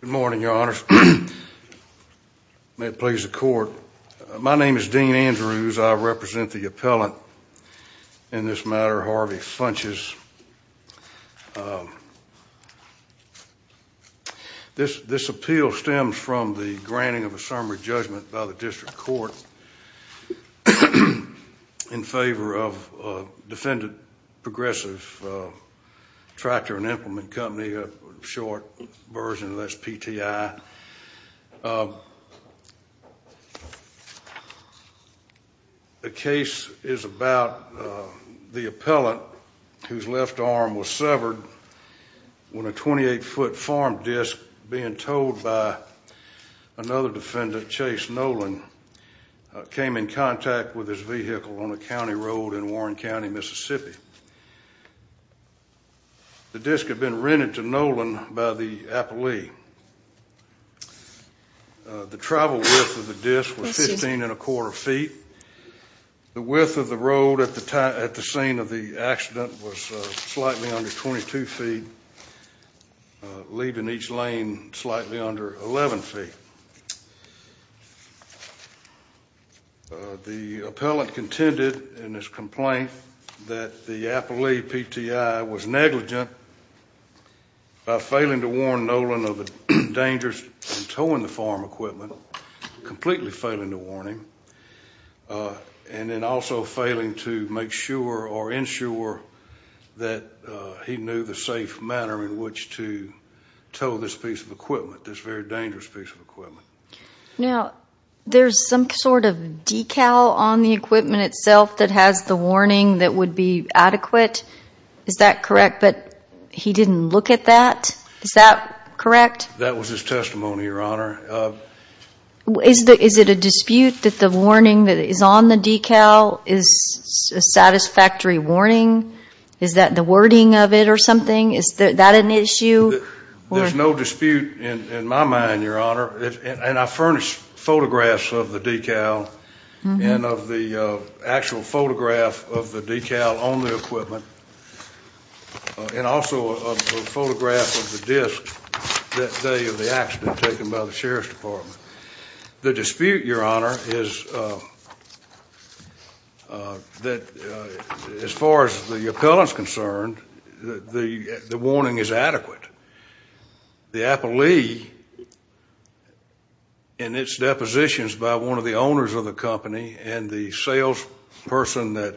Good morning, your honors. May it please the court. My name is Dean Andrews. I represent the appellant in this matter, Harvey Funches. This appeal stems from the granting of a summary judgment by the district court in favor of Defendant Progressive Tractor and Implement Company, a short version of SPTI. The case is about the appellant whose left arm was severed when a 28-foot farm disc being towed by another defendant, Chase Noland, came in contact with his vehicle on a county road in Warren County, Mississippi. The disc had been rented to Noland by the appellee. The travel width of the disc was 15 1⁄4 feet. The width of the road at the scene of the accident was slightly under 22 feet, leaving each lane slightly under 11 feet. The appellant contended in his complaint that the appellee, PTI, was negligent by failing to warn Noland of the dangers in towing the farm equipment, completely failing to warn him, and then also failing to make sure or ensure that he knew the safe manner in which to tow this piece of equipment, this very dangerous piece of equipment. Now, there's some sort of decal on the equipment itself that has the warning that would be adequate, is that correct? But he didn't look at that, is that correct? That was his testimony, Your Honor. Is it a dispute that the warning that is on the decal is a satisfactory warning? Is that the wording of it or something? Is that an issue? There's no dispute in my mind, Your Honor, and I furnished photographs of the decal and of the actual photograph of the decal on the equipment, and also a photograph of the disc that day of the accident taken by the Sheriff's Department. The dispute, Your Honor, is that as far as the appellant's concerned, the warning is adequate. The appellee, in its depositions by one of the owners of the company and the salesperson that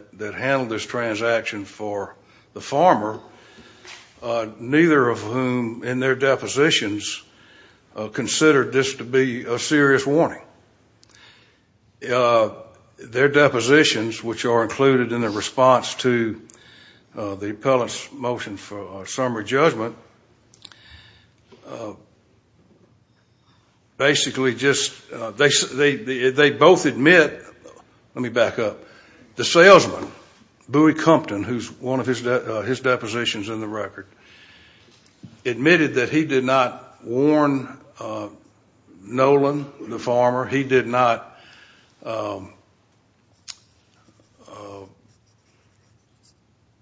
considered this to be a serious warning, their depositions, which are included in the response to the appellant's motion for summary judgment, basically just, they both admit, let me back up, the salesman, Bowie Compton, who's one of his depositions in the record, admitted that he did not warn Nolan, the farmer, he did not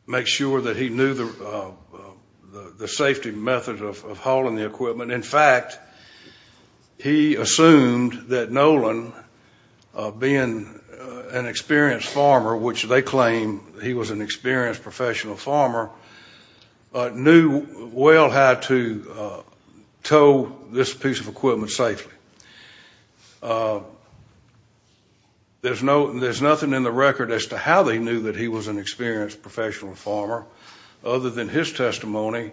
make sure that he knew the safety method of hauling the equipment. In fact, he assumed that Nolan, being an experienced farmer, which they claim he was an experienced professional farmer, knew well how to tow this piece of equipment safely. There's nothing in the record as to how they knew that he was an experienced professional farmer other than his testimony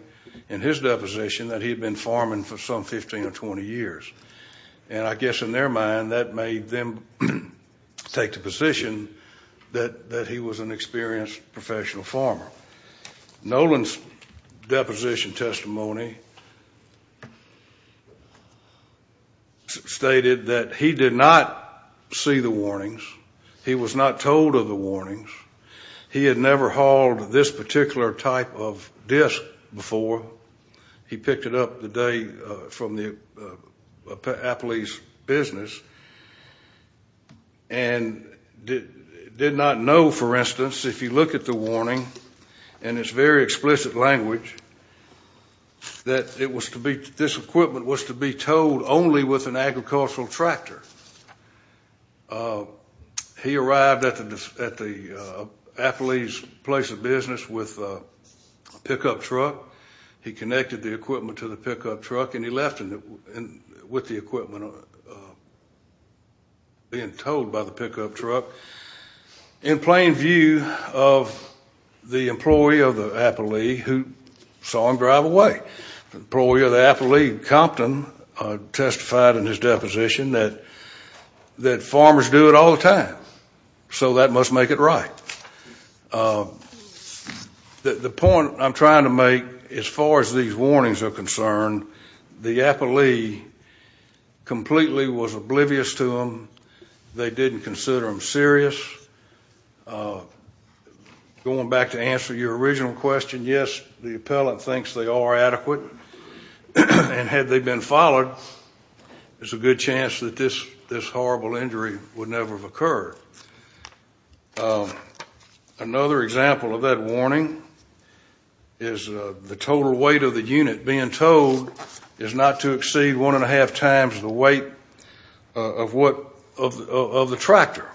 in his deposition that he had been farming for some 15 or 20 years, and I guess in their mind that made them take the position that he was an experienced professional farmer. Nolan's deposition testimony stated that he did not see the warnings, he was not told of the warnings, he had never hauled this particular type of disc before. He picked it up the day from the appellee's business and did not know, for instance, if you look at the warning in its very explicit language that this equipment was to be towed only with an agricultural tractor. He arrived at the appellee's place of business with a pickup truck. He connected the equipment to the pickup truck and he left with the equipment being towed by the pickup truck. In plain view of the employee of the appellee who saw him drive away, the employee of the that farmers do it all the time, so that must make it right. The point I'm trying to make as far as these warnings are concerned, the appellee completely was oblivious to them. They didn't consider them serious. Going back to answer your original question, yes, the appellant thinks they are adequate and had they been followed, there's a good chance that this horrible injury would never have occurred. Another example of that warning is the total weight of the unit being towed is not to exceed one and a half times the weight of the tractor.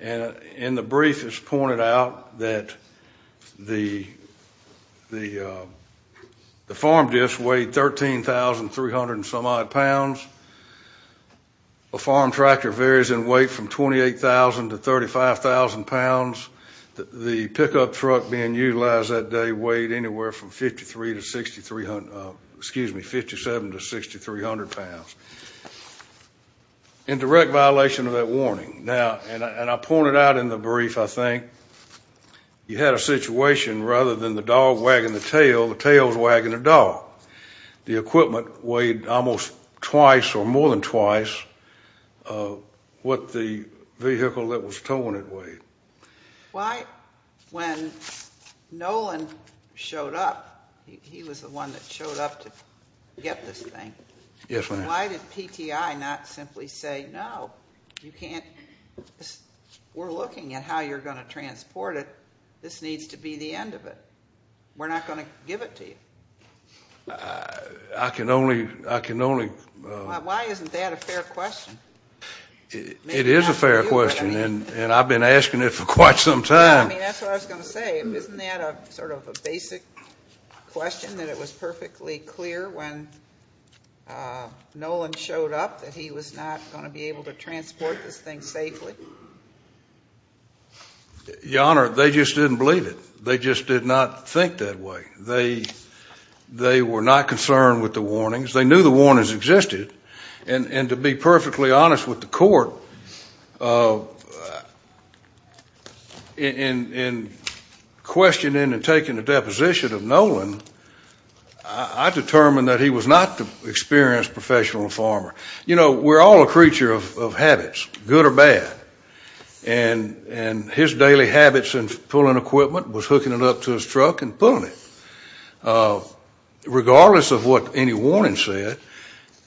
In the brief it's pointed out that the farm discs weighed 13,300 and some odd pounds. A farm tractor varies in weight from 28,000 to 35,000 pounds. The pickup truck being utilized that day weighed anywhere from 53 to 63, excuse me, 57 to 6,300 pounds. In direct violation of that warning, and I pointed out in the brief, I think, you had a situation rather than the dog wagging the tail, the tail's wagging the dog. The equipment weighed almost twice or more than twice what the vehicle that was towing it weighed. Why, when Nolan showed up, he was the one that showed up to get this thing, why did PTI not simply say, no, you can't, we're looking at how you're going to transport it, this needs to be the end of it, we're not going to give it to you. I can only, I can only, why isn't that a fair question? It is a fair question and I've been asking it for quite some time. I mean that's what I was going to say, isn't that a sort of a basic question that it was perfectly clear when Nolan showed up that he was not going to be able to transport this thing safely? Your Honor, they just didn't believe it. They just did not think that way. They were not concerned with the warnings. They knew the warnings existed and to be perfectly honest with the court, in questioning and taking a deposition of Nolan, I determined that he was not an experienced professional farmer. You know, we're all a creature of habits, good or bad, and his daily habits in pulling equipment was hooking it up to his truck and pulling it, regardless of what any warning said.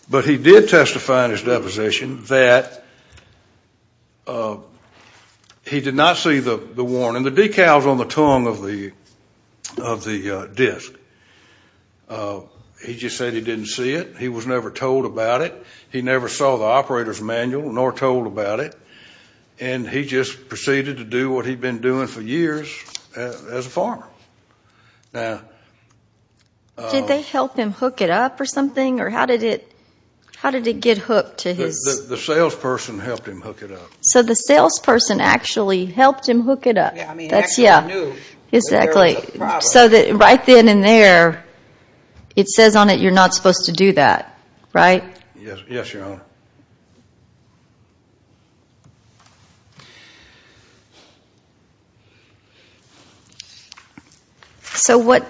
But he did testify in his deposition that he did not see the warning. The decal's on the tongue of the disc. He just said he didn't see it. He was never told about it. He never saw the operator's manual, nor told about it. And he just proceeded to do what he'd been doing for years as a farmer. Now... Did they help him hook it up or something? Or how did it, how did it get hooked to his... The salesperson helped him hook it up. So the salesperson actually helped him hook it up? Yeah, I mean, actually I knew... Exactly. So that right then and there, it says on it you're not supposed to do that, right? Yes, yes, Your Honor. So what...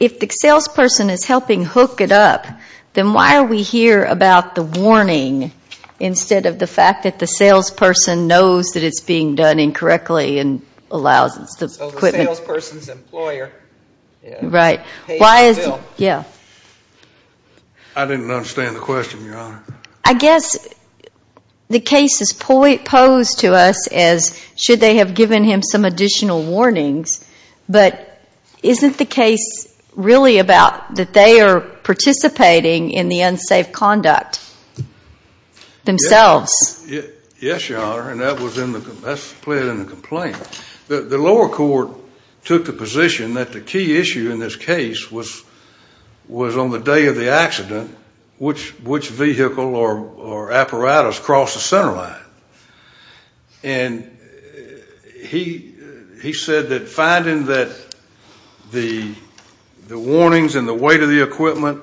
If the salesperson is helping hook it up, then why are we here about the warning instead of the fact that the salesperson knows that it's being done incorrectly and allows... So the salesperson's employer... Right. Pays the bill. Yeah. I didn't understand the question, Your Honor. I guess the case is posed to us as should they have given him some additional warnings, but isn't the case really about that they are participating in the unsafe conduct themselves? Yes, Your Honor. And that was in the... That's played in the complaint. The lower court took the position that the key issue in this case was on the day of the accident which vehicle or apparatus crossed the center line. And he said that finding that the warnings and the weight of the equipment,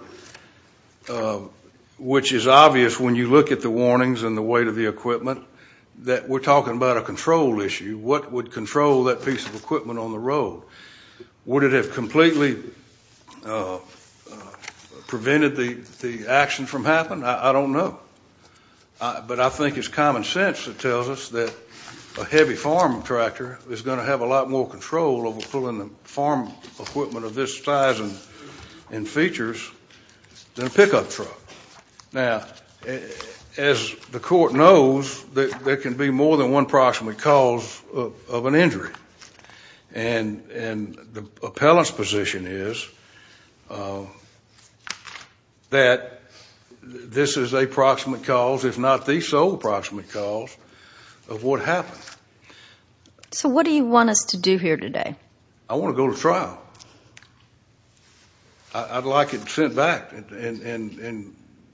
which is obvious when you look at the warnings and the weight of the equipment, that we're talking about a control issue. What would control that piece of equipment on the road? Would it have completely prevented the action from happening? I don't know. But I think it's common sense that tells us that a heavy farm tractor is going to have a lot more control over pulling the farm equipment of this size and features than a pickup truck. Now, as the court knows, there can be more than one proximate cause of an injury. And the appellant's position is that this is a proximate cause, if not the sole proximate cause, of what happened. So what do you want us to do here today? I want to go to trial. I'd like it sent back and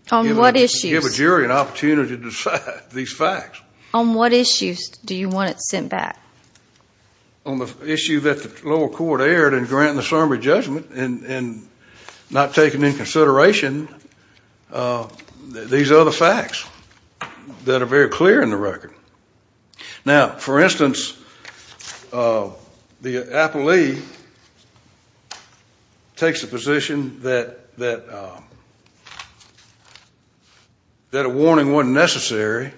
give a jury an opportunity to decide these facts. On what issues do you want it sent back? On the issue that the lower court aired and granted the summary judgment and not taking into consideration these other facts that are very clear in the record. Now, for instance, the appellee takes a position that a warning wasn't necessary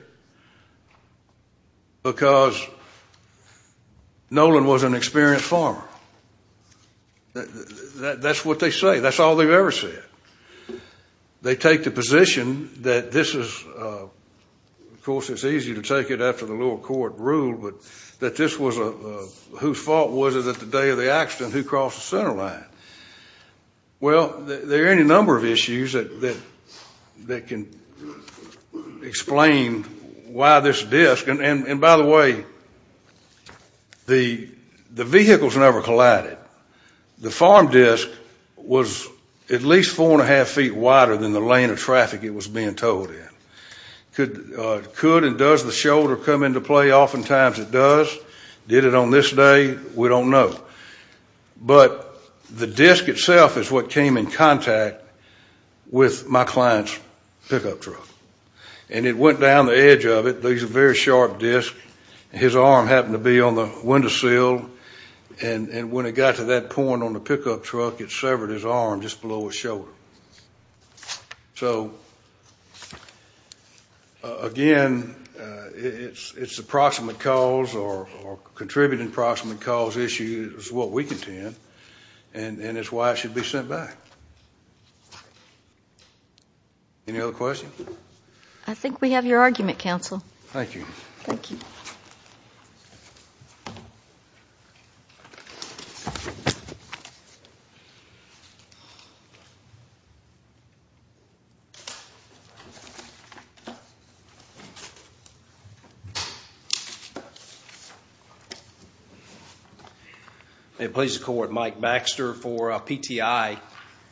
because Nolan was an experienced farmer. That's what they say. That's all they've ever said. They take the position that this is, of course, it's easy to take it after the lower court ruled, but that this was a, whose fault was it that the day of the accident, who crossed the center line? Well, there are any number of issues that can explain the fact that why this disk, and by the way, the vehicles never collided. The farm disk was at least four and a half feet wider than the lane of traffic it was being towed in. Could and does the shoulder come into play? Oftentimes it does. Did it on this day? We don't know. But the disk itself is what came in contact with my client's pickup truck. And it went down the edge of it. These are very sharp disks. His arm happened to be on the window sill, and when it got to that point on the pickup truck, it severed his arm just below his shoulder. So, again, it's approximate cause or contributing approximate cause issue is what we contend, and it's why it should be sent back. Any other questions? I think we have your argument, counsel. Thank you. Thank you. May it please the court, Mike Baxter for PTI.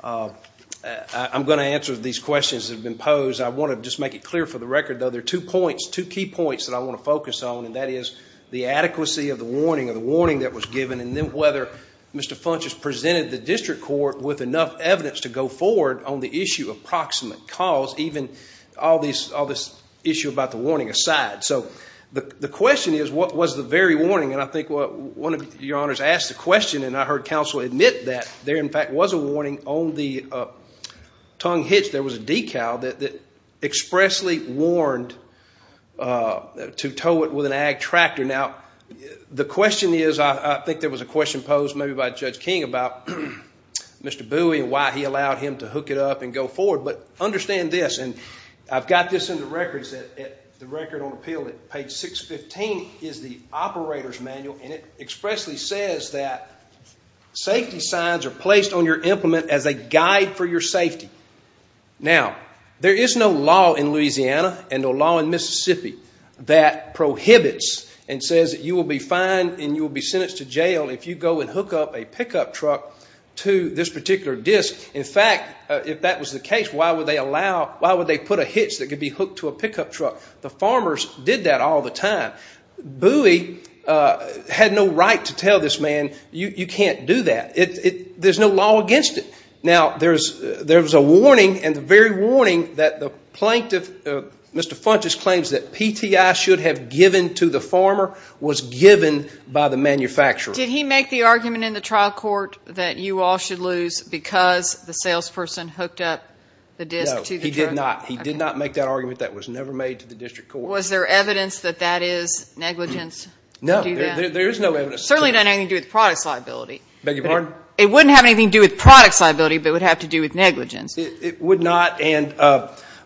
I'm going to answer these questions that have been posed. I want to just make it clear for the record, though, there are two points, two key points that I want to focus on, and that is the adequacy of the warning or the warning that was given, and then whether Mr. Funches presented the district court with enough evidence to go forward on the issue of approximate cause, even all this issue about the warning aside. So the question is, what was the very warning? And I think one of your honors asked the question, and I heard counsel admit that there, in fact, was a warning on the tongue hitch. There was a decal that expressly warned to tow it with an ag tractor. Now, the question is, I think there was a question posed maybe by Judge King about Mr. Bowie and why he allowed him to hook it up and go forward. But understand this, and I've got this in the records, the record on appeal at page 615 is the operator's manual, and it expressly says that safety signs are placed on your safety. Now, there is no law in Louisiana and no law in Mississippi that prohibits and says that you will be fined and you will be sentenced to jail if you go and hook up a pickup truck to this particular disc. In fact, if that was the case, why would they allow, why would they put a hitch that could be hooked to a pickup truck? The farmers did that all the time. Bowie had no right to tell this man, you can't do that. There's no law against it. Now, there's a warning, and the very warning that the plaintiff, Mr. Funches claims that PTI should have given to the farmer was given by the manufacturer. Did he make the argument in the trial court that you all should lose because the salesperson hooked up the disc to the truck? No, he did not. He did not make that argument. That was never made to the district court. Was there evidence that that is negligence to do that? No, there is no evidence. Certainly not anything to do with product liability. Beg your pardon? It wouldn't have anything to do with product liability, but it would have to do with negligence. It would not,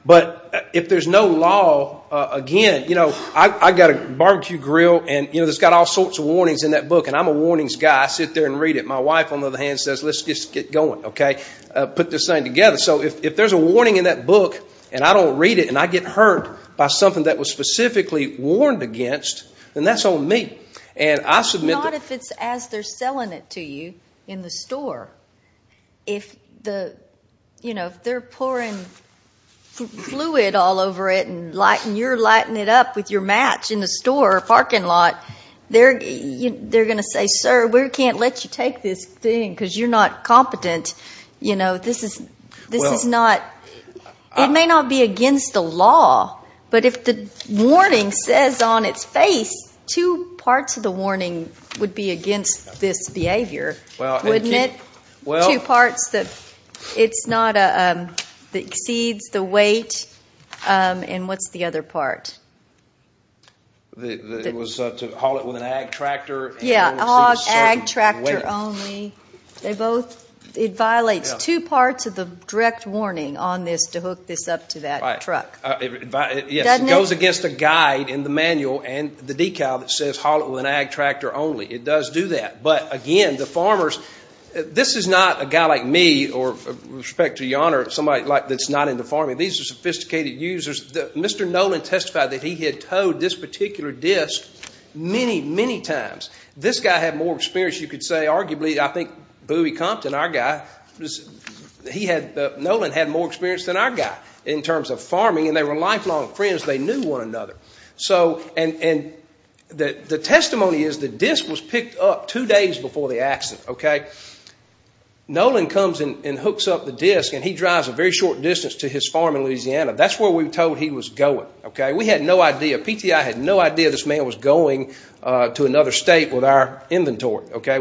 but if there's no law, again, I've got a barbecue grill and it's got all sorts of warnings in that book, and I'm a warnings guy. I sit there and read it. My wife, on the other hand, says let's just get going. Put this thing together. So, if there's a warning in that book, and I don't read it, and I get hurt by something that was specifically warned against, then that's on me. Not if it's as they're selling it to you in the store. If they're pouring fluid all over it and you're lighting it up with your match in the store or parking lot, they're going to say, sir, we can't let you take this thing because you're not competent. You know, this is not, it may not be against the law, but if the warning says on its face, two parts of the warning would be against this behavior, wouldn't it? Two parts that it's not, exceeds the weight, and what's the other part? It was to haul it with an ag tractor. Yeah, ag tractor only. They both, it violates two parts of the direct warning on this to hook this up to that truck. Yes, it goes against the guide in the manual and the decal that says haul it with an ag tractor only. It does do that. But, again, the farmers, this is not a guy like me, or respect to your honor, somebody like that's not into farming. These are sophisticated users. Mr. Nolan testified that he had towed this particular disc many, many times. This guy had more experience. You could say, arguably, I think Bowie Compton, our guy, he had, Nolan had more experience than our guy in terms of farming, and they were lifelong friends. They knew one another. So, and the testimony is the disc was picked up two days before the accident, okay? Nolan comes and hooks up the disc, and he drives a very short distance to his farm in Louisiana. That's where we were told he was going, okay? PTI had no idea this man was going to another state with our inventory, okay?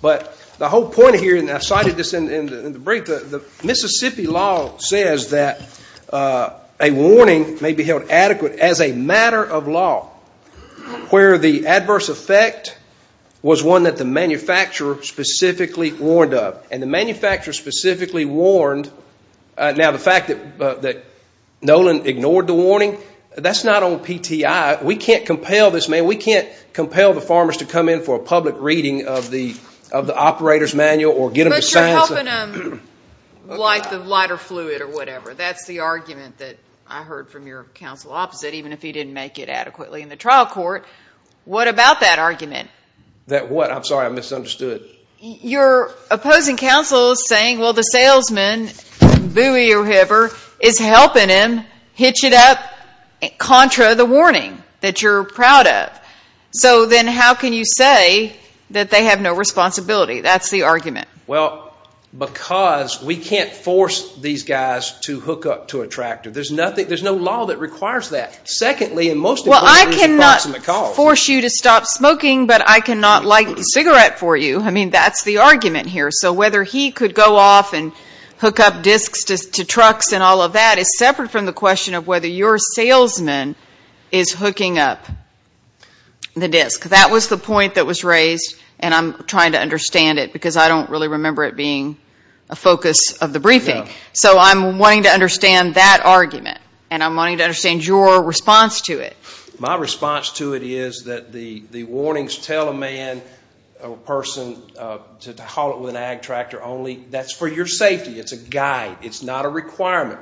But the whole point here, and I cited this in the brief, the Mississippi law says that a warning may be held adequate as a matter of law where the adverse effect was one that the manufacturer specifically warned of. The manufacturer specifically warned, now the fact that Nolan ignored the warning, that's not on PTI. We can't compel this man. We can't compel the farmers to come in for a public reading of the operator's manual or get them to sign something. But you're helping them light the lighter fluid or whatever. That's the argument that I heard from your counsel opposite, even if he didn't make it adequately in the trial court. What about that argument? That what? I'm sorry. I misunderstood. You're opposing counsel saying, well, the salesman, buoy or whatever, is helping him hitch it up contra the warning that you're proud of. So then how can you say that they have no responsibility? That's the argument. Well, because we can't force these guys to hook up to a tractor. There's nothing, there's no law that requires that. Secondly, and most importantly, it's an approximate cause. Stop smoking, but I cannot light the cigarette for you. I mean, that's the argument here. So whether he could go off and hook up discs to trucks and all of that is separate from the question of whether your salesman is hooking up the disc. That was the point that was raised. And I'm trying to understand it because I don't really remember it being a focus of the briefing. So I'm wanting to understand that argument. And I'm wanting to understand your response to it. My response to it is that the warnings tell a man or person to haul it with an ag tractor only. That's for your safety. It's a guide. It's not a requirement.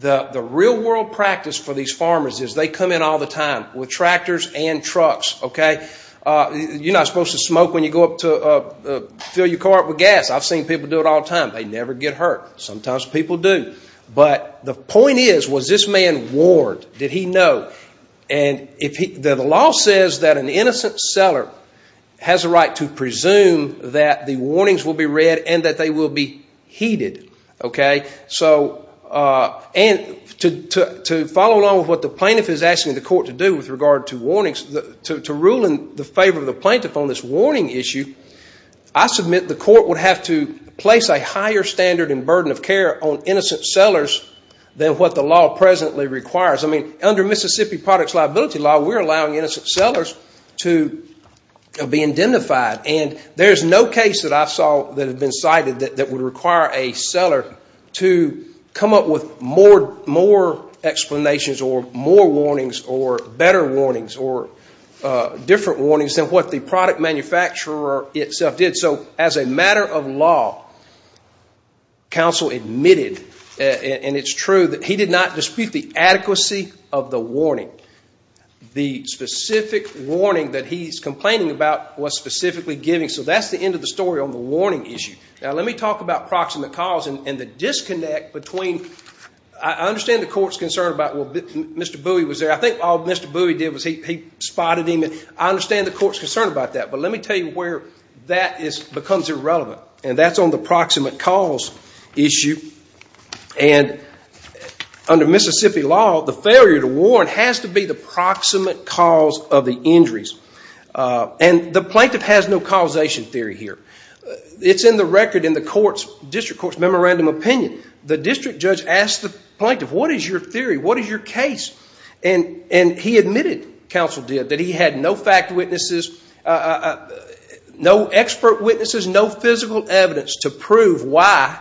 The real world practice for these farmers is they come in all the time with tractors and trucks, okay? You're not supposed to smoke when you go up to fill your car up with gas. I've seen people do it all the time. They never get hurt. Sometimes people do. But the point is, was this man warned? Did he know? And the law says that an innocent seller has a right to presume that the warnings will be read and that they will be heeded, okay? So to follow along with what the plaintiff is asking the court to do with regard to warnings, to rule in the favor of the plaintiff on this warning issue, I submit the court would have to place a higher standard and burden of care on innocent sellers than what the law presently requires. Under Mississippi Products Liability Law, we're allowing innocent sellers to be indemnified. And there's no case that I saw that had been cited that would require a seller to come up with more explanations or more warnings or better warnings or different warnings than what the product manufacturer itself did. So as a matter of law, counsel admitted, and it's true, that he did not dispute the adequacy of the warning. The specific warning that he's complaining about was specifically giving. So that's the end of the story on the warning issue. Now let me talk about proximate cause and the disconnect between, I understand the court's concerned about, well, Mr. Bowie was there. I think all Mr. Bowie did was he spotted him. And I understand the court's concerned about that. But let me tell you where that becomes irrelevant. And that's on the proximate cause issue. And under Mississippi law, the failure to warn has to be the proximate cause of the injuries. And the plaintiff has no causation theory here. It's in the record in the district court's memorandum of opinion. The district judge asked the plaintiff, what is your theory? What is your case? And he admitted, counsel did, that he had no fact witnesses, no expert witnesses, no evidence to prove why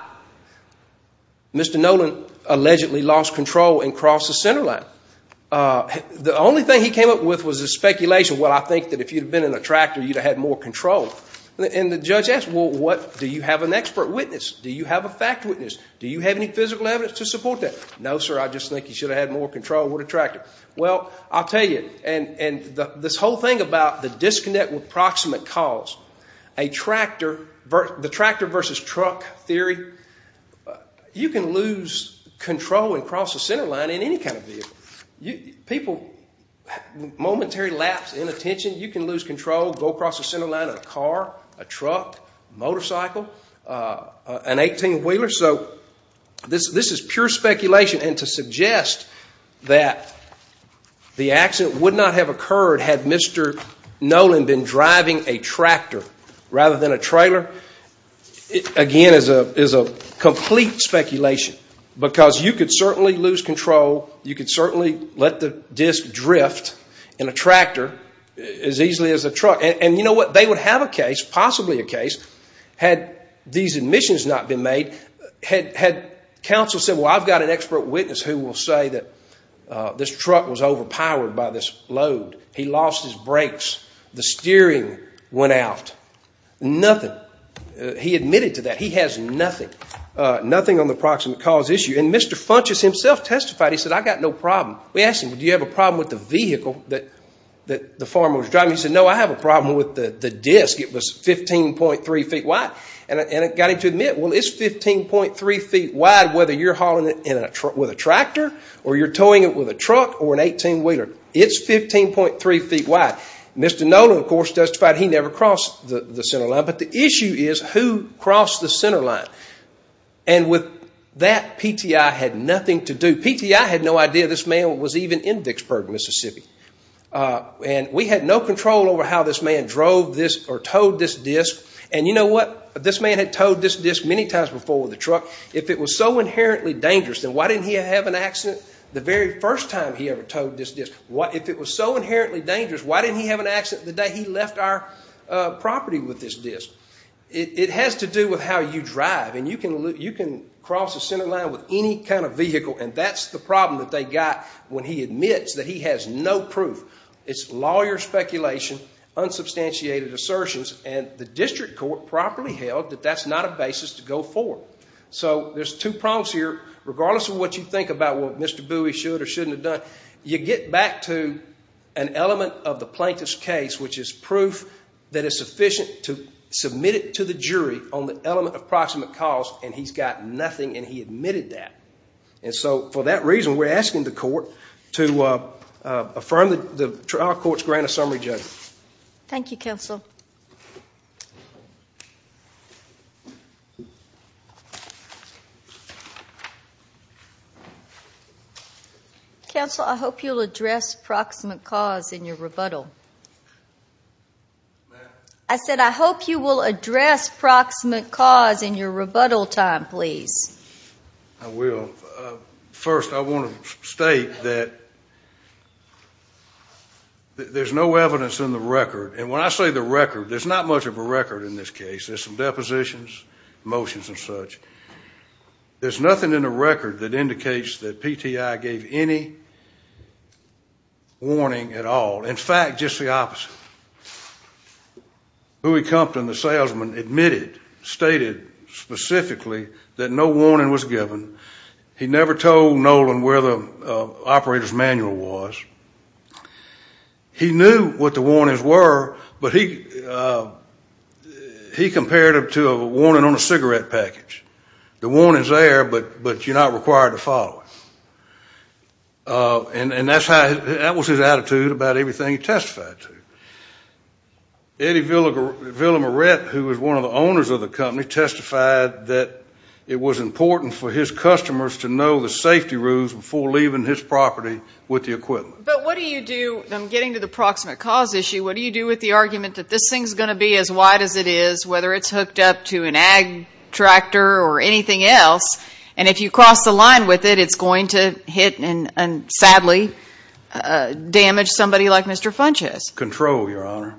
Mr. Nolan allegedly lost control and crossed the center line. The only thing he came up with was a speculation. Well, I think that if you'd have been in a tractor, you'd have had more control. And the judge asked, well, what, do you have an expert witness? Do you have a fact witness? Do you have any physical evidence to support that? No, sir. I just think he should have had more control with a tractor. Well, I'll tell you, and this whole thing about the disconnect with proximate cause, a tractor, the tractor versus truck theory, you can lose control and cross the center line in any kind of vehicle. People, momentary lapse in attention, you can lose control, go across the center line in a car, a truck, motorcycle, an 18-wheeler. So this is pure speculation. And to suggest that the accident would not have occurred had Mr. Nolan been driving a tractor rather than a trailer, again, is a complete speculation. Because you could certainly lose control. You could certainly let the disc drift in a tractor as easily as a truck. And you know what, they would have a case, possibly a case, had these admissions not been made, had counsel said, well, I've got an expert witness who will say that this truck He lost his brakes. The steering went out. Nothing. He admitted to that. He has nothing, nothing on the proximate cause issue. And Mr. Funches himself testified. He said, I've got no problem. We asked him, do you have a problem with the vehicle that the farmer was driving? He said, no, I have a problem with the disc. It was 15.3 feet wide. And it got him to admit, well, it's 15.3 feet wide whether you're hauling it with a tractor or you're towing it with a truck or an 18-wheeler. It's 15.3 feet wide. Mr. Nola, of course, testified he never crossed the center line. But the issue is who crossed the center line. And with that, PTI had nothing to do. PTI had no idea this man was even in Vicksburg, Mississippi. And we had no control over how this man drove this or towed this disc. And you know what, this man had towed this disc many times before with a truck. If it was so inherently dangerous, then why didn't he have an accident the very first time he ever towed this disc? If it was so inherently dangerous, why didn't he have an accident the day he left our property with this disc? It has to do with how you drive. And you can cross the center line with any kind of vehicle. And that's the problem that they got when he admits that he has no proof. It's lawyer speculation, unsubstantiated assertions. And the district court properly held that that's not a basis to go forward. So there's two problems here. You get back to an element of the plaintiff's case, which is proof that is sufficient to submit it to the jury on the element of proximate cause. And he's got nothing. And he admitted that. And so for that reason, we're asking the court to affirm the trial court's grant of summary judgment. Thank you, counsel. Counsel, I hope you'll address proximate cause in your rebuttal. I said, I hope you will address proximate cause in your rebuttal time, please. I will. First, I want to state that there's no evidence in the record. I'm talking about the evidence. There's not much of a record in this case. There's some depositions, motions, and such. There's nothing in the record that indicates that PTI gave any warning at all. In fact, just the opposite. Huey Compton, the salesman, admitted, stated specifically that no warning was given. He never told Nolan where the operator's manual was. He knew what the warnings were, but he compared them to a warning on a cigarette package. The warning's there, but you're not required to follow it. And that was his attitude about everything he testified to. Eddie Villamaret, who was one of the owners of the company, testified that it was important for his customers to know the safety rules before leaving his property with the equipment. But what do you do? I'm getting to the proximate cause issue. What do you do with the argument that this thing's going to be as wide as it is, whether it's hooked up to an ag tractor or anything else, and if you cross the line with it, it's going to hit and, sadly, damage somebody like Mr. Funchess? Control, Your Honor.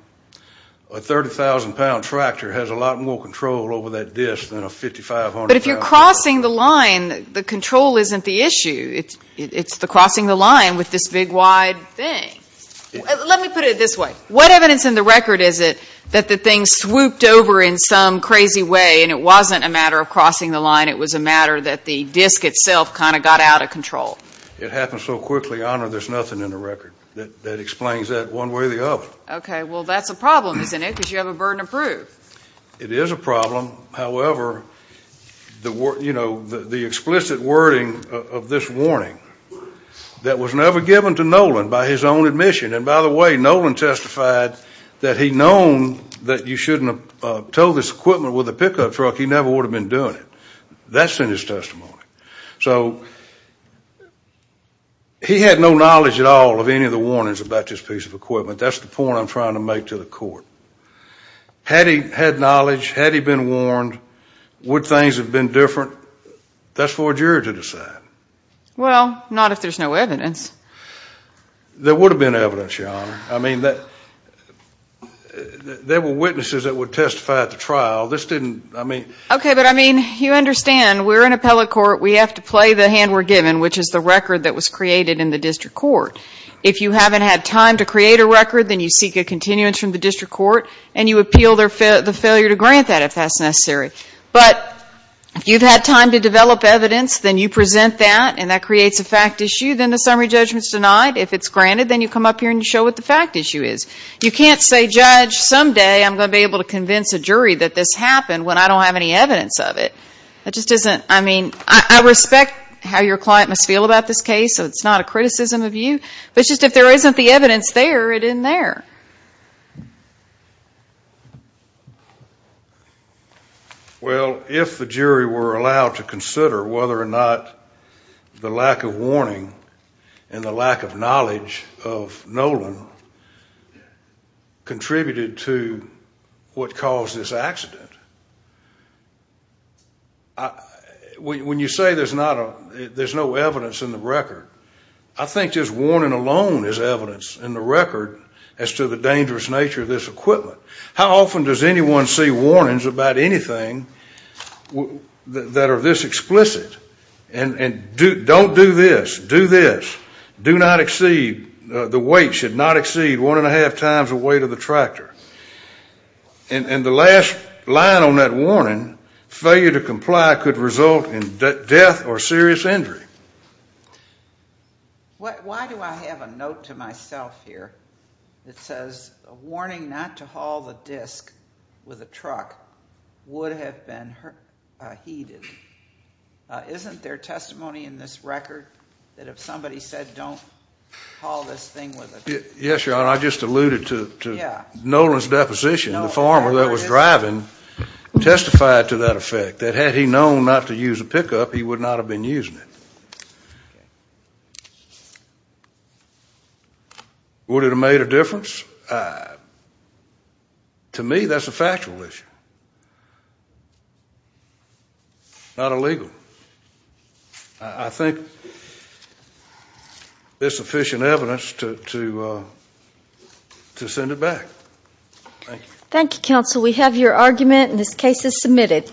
A 30,000-pound tractor has a lot more control over that disc than a 5,500-pound tractor. But if you're crossing the line, the control isn't the issue. It's the crossing the line with this big, wide thing. Let me put it this way. What evidence in the record is it that the thing swooped over in some crazy way, and it wasn't a matter of crossing the line? It was a matter that the disc itself kind of got out of control? It happened so quickly, Your Honor, there's nothing in the record that explains that one way or the other. OK. Well, that's a problem, isn't it? Because you have a burden of proof. It is a problem. However, the explicit wording of this warning that was never given to Nolan by his own admission and, by the way, Nolan testified that he'd known that you shouldn't tow this equipment with a pickup truck. He never would have been doing it. That's in his testimony. So he had no knowledge at all of any of the warnings about this piece of equipment. That's the point I'm trying to make to the court. Had he had knowledge, had he been warned, would things have been different? That's for a jury to decide. Well, not if there's no evidence. There would have been evidence, Your Honor. I mean, there were witnesses that would testify at the trial. This didn't, I mean... OK, but I mean, you understand we're in appellate court. We have to play the hand we're given, which is the record that was created in the district court. If you haven't had time to create a record, then you seek a continuance from the district court, and you appeal the failure to grant that if that's necessary. But if you've had time to develop evidence, then you present that, and that creates a fact issue. Then the summary judgment's denied. If it's granted, then you come up here and show what the fact issue is. You can't say, Judge, someday I'm going to be able to convince a jury that this happened when I don't have any evidence of it. That just isn't... I mean, I respect how your client must feel about this case, so it's not a criticism of you. But it's just if there isn't the evidence there, it isn't there. Well, if the jury were allowed to consider whether or not the lack of warning and the lack of knowledge of Nolan contributed to what caused this accident, when you say there's no evidence in the record, I think just warning alone is evidence in the record as to the How often does anyone see warnings about anything that are this explicit? And don't do this. Do this. Do not exceed. The weight should not exceed one and a half times the weight of the tractor. And the last line on that warning, failure to comply could result in death or serious injury. Why do I have a note to myself here that says a warning not to haul the disc with a truck would have been heeded? Isn't there testimony in this record that if somebody said don't haul this thing with a disc? Yes, Your Honor. I just alluded to Nolan's deposition. The farmer that was driving testified to that effect, that had he known not to use a pickup, he would not have been using it. Would it have made a difference? To me, that's a factual issue. Not illegal. I think there's sufficient evidence to send it back. Thank you, counsel. We have your argument and this case is submitted.